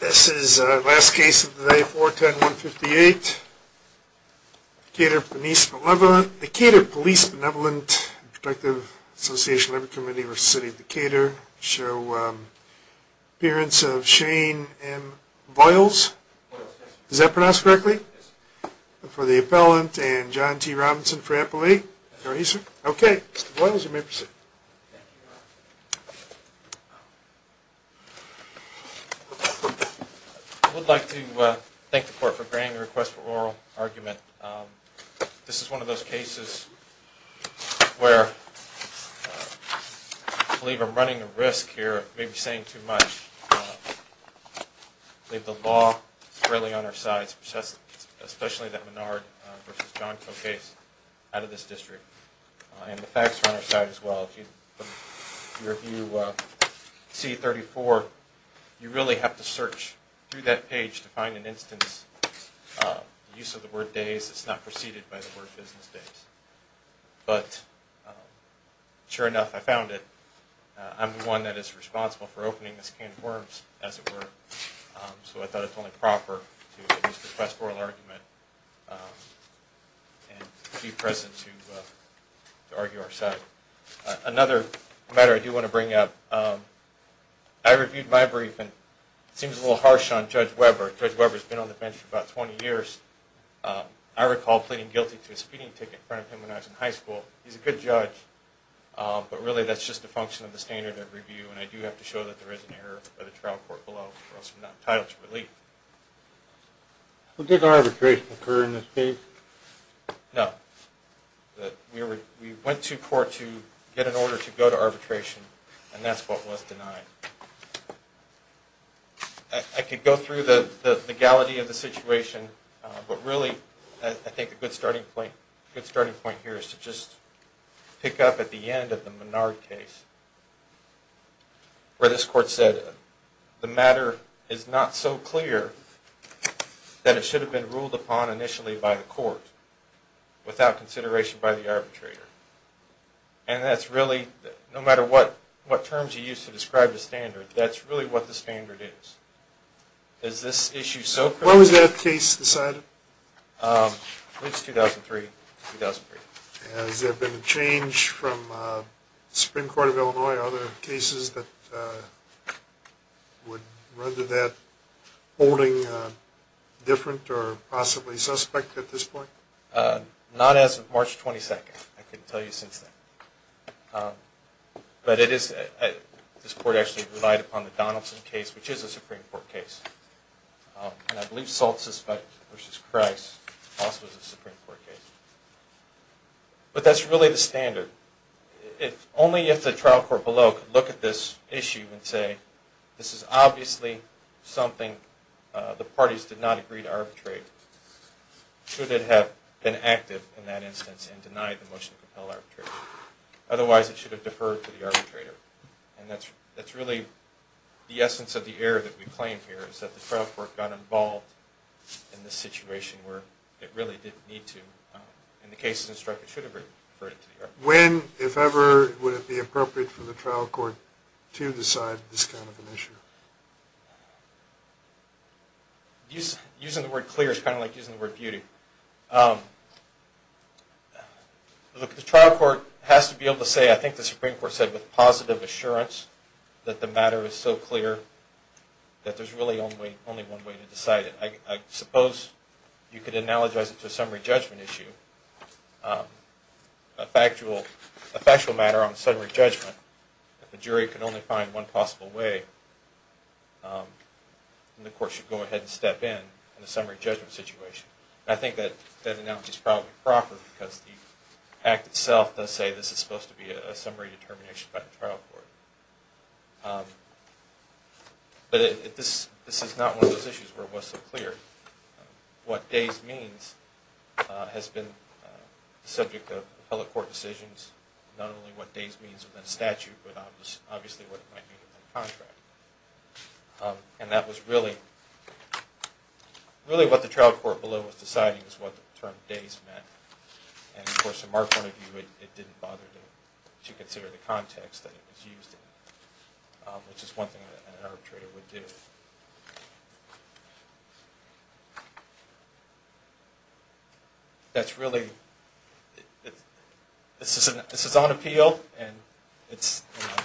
This is our last case of the day, 410-158. Decatur Police Benevolent and Protective Association Liberty Committee v. City of Decatur show appearance of Shane M. Voiles. Does that pronounce correctly? Yes. For the appellant and John T. Robinson for appellee. Okay, Mr. Voiles, you may proceed. I would like to thank the court for granting a request for oral argument. This is one of those cases where I believe I'm running a risk here of maybe saying too much. I believe the law is fairly on our side, especially that Menard v. Jonko case out of this district. And the facts are on our side as well. If you review C-34, you really have to search through that page to find an instance. The use of the word days is not preceded by the word business days. But sure enough, I found it. I'm the one that is responsible for opening this can of worms, as it were. So I thought it's only proper to use the request for oral argument and be present to argue our side. Another matter I do want to bring up. I reviewed my brief and it seems a little harsh on Judge Weber. Judge Weber has been on the bench for about 20 years. I recall pleading guilty to a speeding ticket in front of him when I was in high school. He's a good judge, but really that's just a function of the standard of review. And I do have to show that there is an error by the trial court below for us from that title to relief. Did arbitration occur in this case? No. We went to court to get an order to go to arbitration, and that's what was denied. I could go through the legality of the situation, but really I think a good starting point here is to just pick up at the end of the Menard case, where this court said the matter is not so clear that it should have been ruled upon initially by the court without consideration by the arbitrator. And that's really, no matter what terms you use to describe the standard, that's really what the standard is. Is this issue so clear? When was that case decided? It was 2003. Has there been a change from the Supreme Court of Illinois or other cases that would render that holding different or possibly suspect at this point? Not as of March 22nd. I couldn't tell you since then. But this court actually relied upon the Donaldson case, which is a Supreme Court case. And I believe Salt Suspect v. Christ also is a Supreme Court case. But that's really the standard. Only if the trial court below could look at this issue and say this is obviously something the parties did not agree to arbitrate. Should it have been active in that instance and denied the motion to compel arbitration? Otherwise, it should have deferred to the arbitrator. And that's really the essence of the error that we claim here, is that the trial court got involved in the situation where it really didn't need to. In the case of the strike, it should have been deferred to the arbitrator. When, if ever, would it be appropriate for the trial court to decide this kind of an issue? Using the word clear is kind of like using the word beauty. Look, the trial court has to be able to say, I think the Supreme Court said, with positive assurance that the matter is so clear that there's really only one way to decide it. I suppose you could analogize it to a summary judgment issue, a factual matter on summary judgment. If the jury could only find one possible way, then the court should go ahead and step in on the summary judgment situation. And I think that analogy is probably proper because the act itself does say this is supposed to be a summary determination by the trial court. But this is not one of those issues where it was so clear. What Days means has been the subject of appellate court decisions. Not only what Days means within statute, but obviously what it might mean within contract. And that was really what the trial court below was deciding, was what the term Days meant. And of course, to mark one of you, it didn't bother to consider the context that it was used in. Which is one thing that an arbitrator would do. That's really, this is on appeal, and it's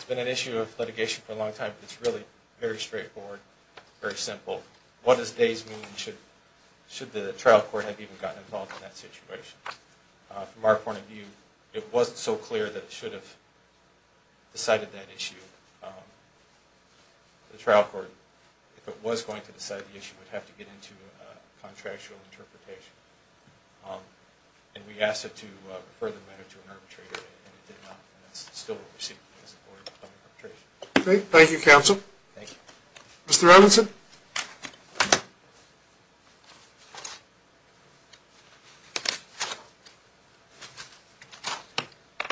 been an issue of litigation for a long time. It's really very straightforward, very simple. What does Days mean, should the trial court have even gotten involved in that situation? From our point of view, it wasn't so clear that it should have decided that issue. The trial court, if it was going to decide the issue, would have to get into a contractual interpretation. And we asked it to refer the matter to an arbitrator, and it did not. And that's still what we see as a court of arbitration. Okay, thank you, counsel. Thank you. Mr. Robinson?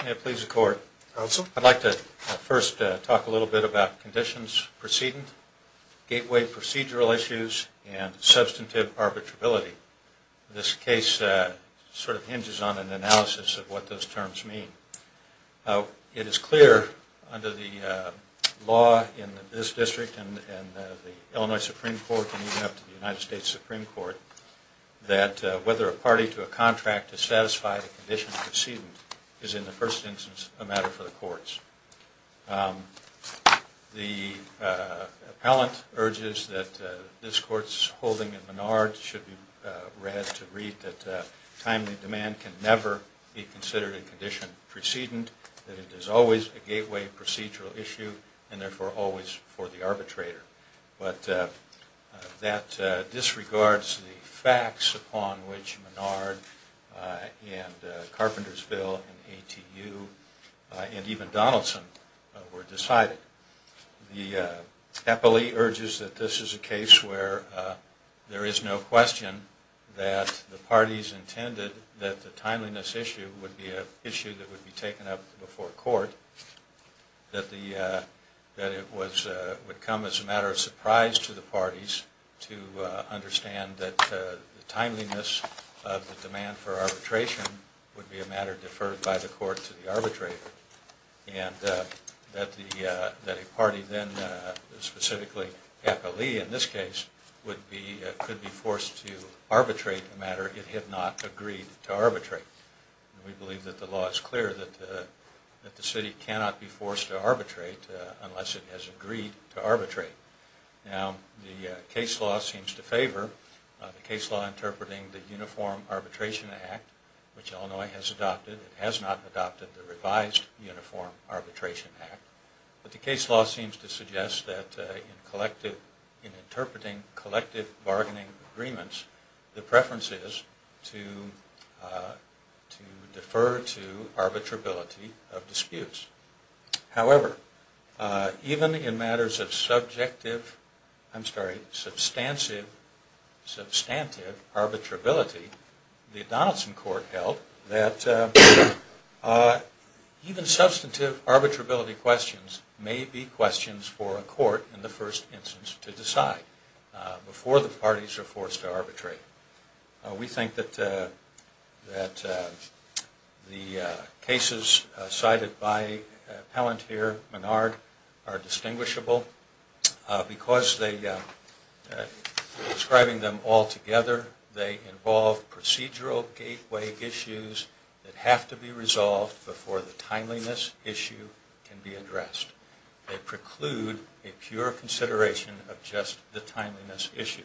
May it please the court. Counsel? I'd like to first talk a little bit about conditions preceding gateway procedural issues and substantive arbitrability. This case sort of hinges on an analysis of what those terms mean. It is clear under the law in this district and the Illinois Supreme Court, and even up to the United States Supreme Court, that whether a party to a contract is satisfied a condition preceding is, in the first instance, a matter for the courts. The appellant urges that this court's holding in Menard should be read to read that timely demand can never be considered a condition preceding, that it is always a gateway procedural issue, and therefore always for the arbitrator. But that disregards the facts upon which Menard and Carpentersville and ATU and even Donaldson were decided. The appellee urges that this is a case where there is no question that the parties intended that the timeliness issue would be an issue that would be taken up before court, that it would come as a matter of surprise to the parties to understand that the timeliness of the demand for arbitration would be a matter deferred by the court to the arbitrator, and that a party then, specifically appellee in this case, could be forced to arbitrate a matter it had not agreed to arbitrate. We believe that the law is clear that the city cannot be forced to arbitrate unless it has agreed to arbitrate. Now, the case law seems to favor the case law interpreting the Uniform Arbitration Act, which Illinois has adopted. It has not adopted the revised Uniform Arbitration Act. But the case law seems to suggest that in interpreting collective bargaining agreements, the preference is to defer to arbitrability of disputes. However, even in matters of substantive arbitrability, the Donaldson Court held that even substantive arbitrability questions may be questions for a court in the first instance to decide before the parties are forced to arbitrate. We think that the cases cited by Appellant here, Menard, are distinguishable because describing them all together, they involve procedural gateway issues that have to be resolved before the timeliness issue can be addressed. They preclude a pure consideration of just the timeliness issue.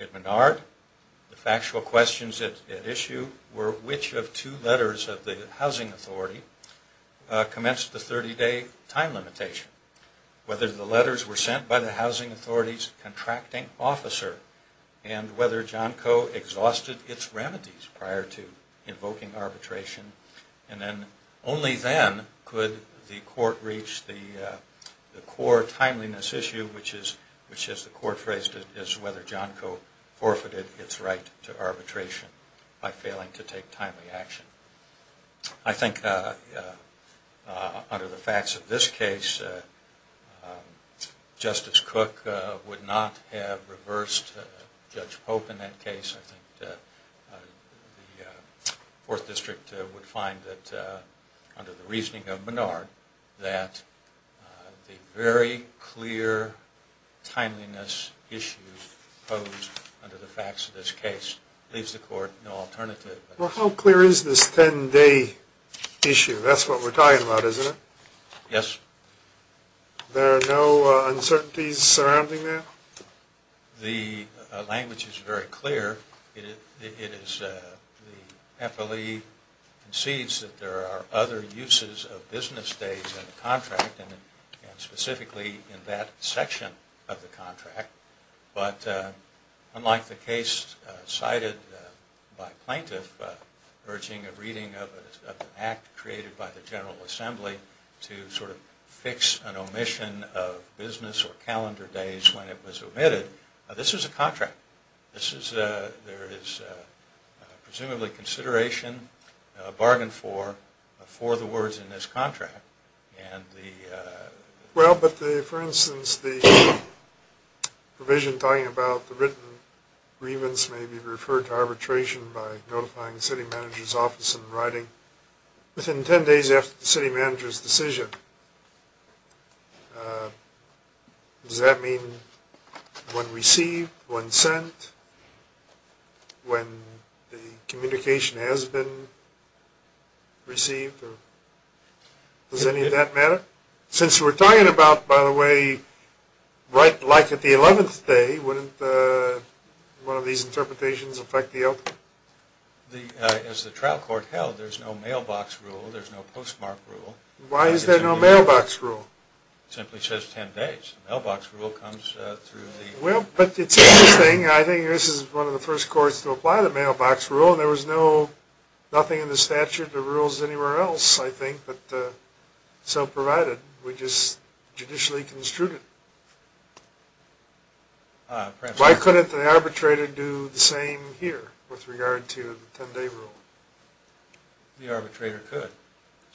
At Menard, the factual questions at issue were which of two letters of the housing authority commenced the 30-day time limitation. Whether the letters were sent by the housing authority's contracting officer and whether John Coe exhausted its remedies prior to invoking arbitration. Only then could the court reach the core timeliness issue, which as the court phrased it, is whether John Coe forfeited its right to arbitration by failing to take timely action. I think under the facts of this case, Justice Cook would not have reversed Judge Pope in that case. I think the Fourth District would find that under the reasoning of Menard, that the very clear timeliness issues posed under the facts of this case leaves the court no alternative. Well, how clear is this 10-day issue? That's what we're talking about, isn't it? Yes. There are no uncertainties surrounding that? The language is very clear. It is the FLE concedes that there are other uses of business days in the contract and specifically in that section of the contract. But unlike the case cited by plaintiff urging a reading of an act created by the General Assembly to sort of fix an omission of business or calendar days when it was omitted, this is a contract. There is presumably consideration, a bargain for, for the words in this contract. Well, but the, for instance, the provision talking about the written grievance may be referred to arbitration by notifying the city manager's office in writing within 10 days after the city manager's decision. Does that mean when received, when sent, when the communication has been received? Does any of that matter? Since we're talking about, by the way, like at the 11th day, wouldn't one of these interpretations affect the outcome? As the trial court held, there's no mailbox rule. There's no postmark rule. Why is there no mailbox rule? It simply says 10 days. Mailbox rule comes through the... Well, but it's interesting. I think this is one of the first courts to apply the mailbox rule and there was no, nothing in the statute or rules anywhere else, I think, but so provided we just judicially construed it. Why couldn't the arbitrator do the same here with regard to the 10-day rule? The arbitrator could.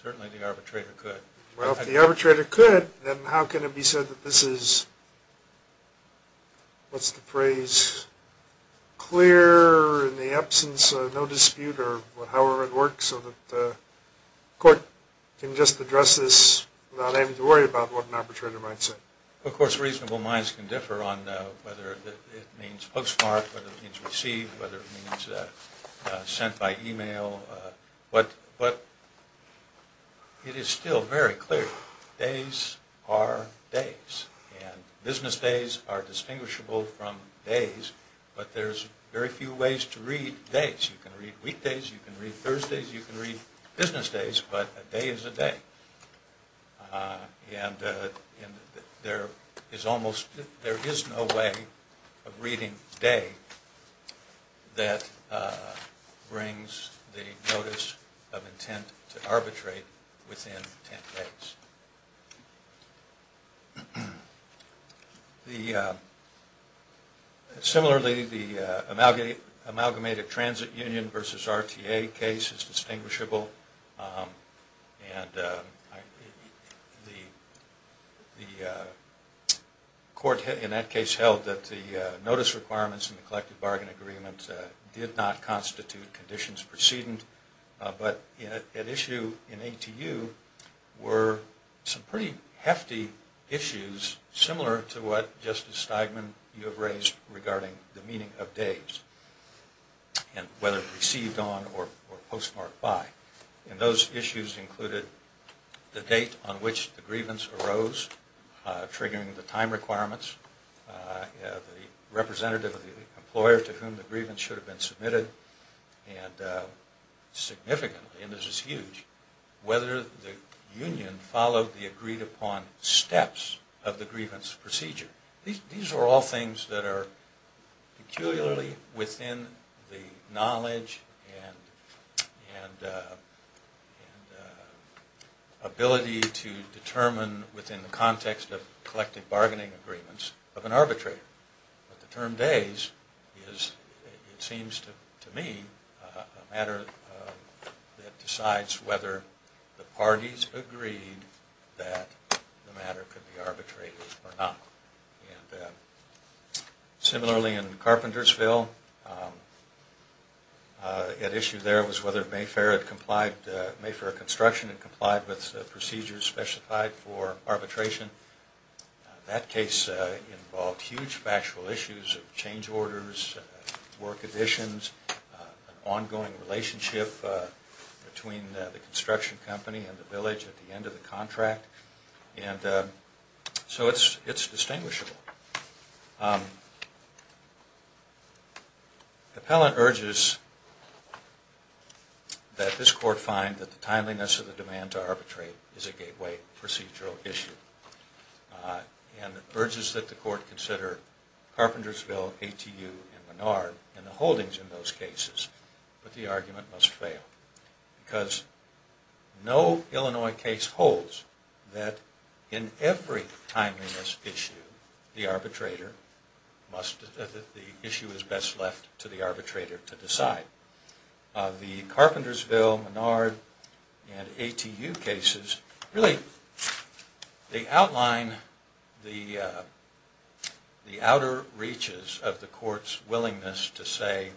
Certainly the arbitrator could. Well, if the arbitrator could, then how can it be said that this is, what's the phrase, clear in the absence of no dispute or however it works so that the court can just address this without having to worry about what an arbitrator might say? Of course, reasonable minds can differ on whether it means postmark, whether it means receive, whether it means sent by email, but it is still very clear. Days are days, and business days are distinguishable from days, but there's very few ways to read days. You can read weekdays, you can read Thursdays, you can read business days, but a day is a day. And there is almost, there is no way of reading day that brings the notice of intent to arbitrate within 10 days. Similarly, the amalgamated transit union versus RTA case is distinguishable, and the court in that case held that the notice requirements in the collective bargain agreement did not constitute conditions precedent, but at issue in ATU were some pretty hefty issues similar to what Justice Steigman, you have raised regarding the meaning of days, and whether received on or postmarked by. And those issues included the date on which the grievance arose, triggering the time requirements, the representative of the employer to whom the grievance should have been submitted, and significantly, and this is huge, whether the union followed the agreed upon steps of the grievance procedure. These are all things that are peculiarly within the knowledge and ability to determine within the context of collective bargaining agreements of an arbitrator. But the term days is, it seems to me, a matter that decides whether the parties agreed that the matter could be arbitrated or not. And similarly in Carpentersville, at issue there was whether Mayfair Construction had complied with procedures specified for arbitration. That case involved huge factual issues of change orders, work additions, ongoing relationship between the construction company and the village at the end of the contract. So it's distinguishable. Appellant urges that this court find that the timeliness of the demand to arbitrate is a gateway procedural issue. And urges that the court consider Carpentersville, ATU, and Menard and the holdings in those cases, but the argument must fail. Because no Illinois case holds that in every timeliness issue, the issue is best left to the arbitrator to decide. The Carpentersville, Menard, and ATU cases, really, they outline the outer reaches of the court's willingness to say,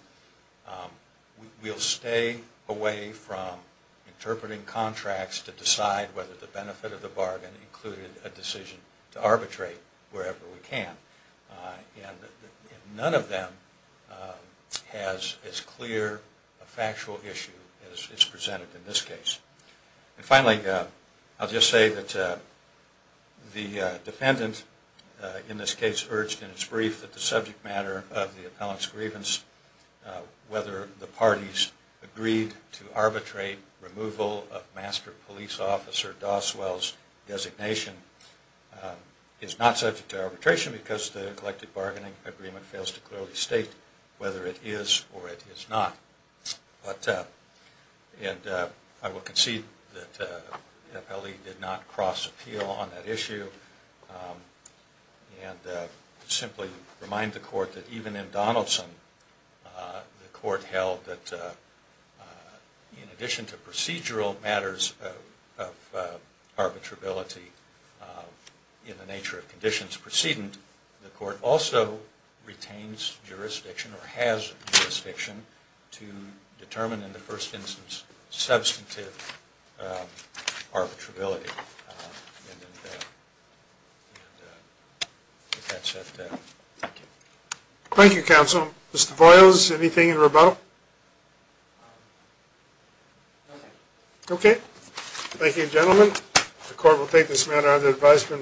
we'll stay away from interpreting contracts to decide whether the benefit of the bargain included a decision to arbitrate wherever we can. And none of them has as clear a factual issue as is presented in this case. And finally, I'll just say that the defendant in this case urged in its brief that the subject matter of the appellant's grievance, whether the parties agreed to arbitrate removal of Master Police Officer Doswell's designation, is not subject to arbitration because the collective bargaining agreement fails to clearly state whether it is or it is not. And I will concede that the appellee did not cross appeal on that issue. And simply remind the court that even in Donaldson, the court held that in addition to procedural matters of arbitrability in the nature of conditions precedent, the court also retains jurisdiction or has jurisdiction to determine, in the first instance, substantive arbitrability. And with that said, thank you. Thank you, counsel. Mr. Boyles, anything in rebuttal? Nothing. Okay. Thank you, gentlemen. The court will take this matter under advisement.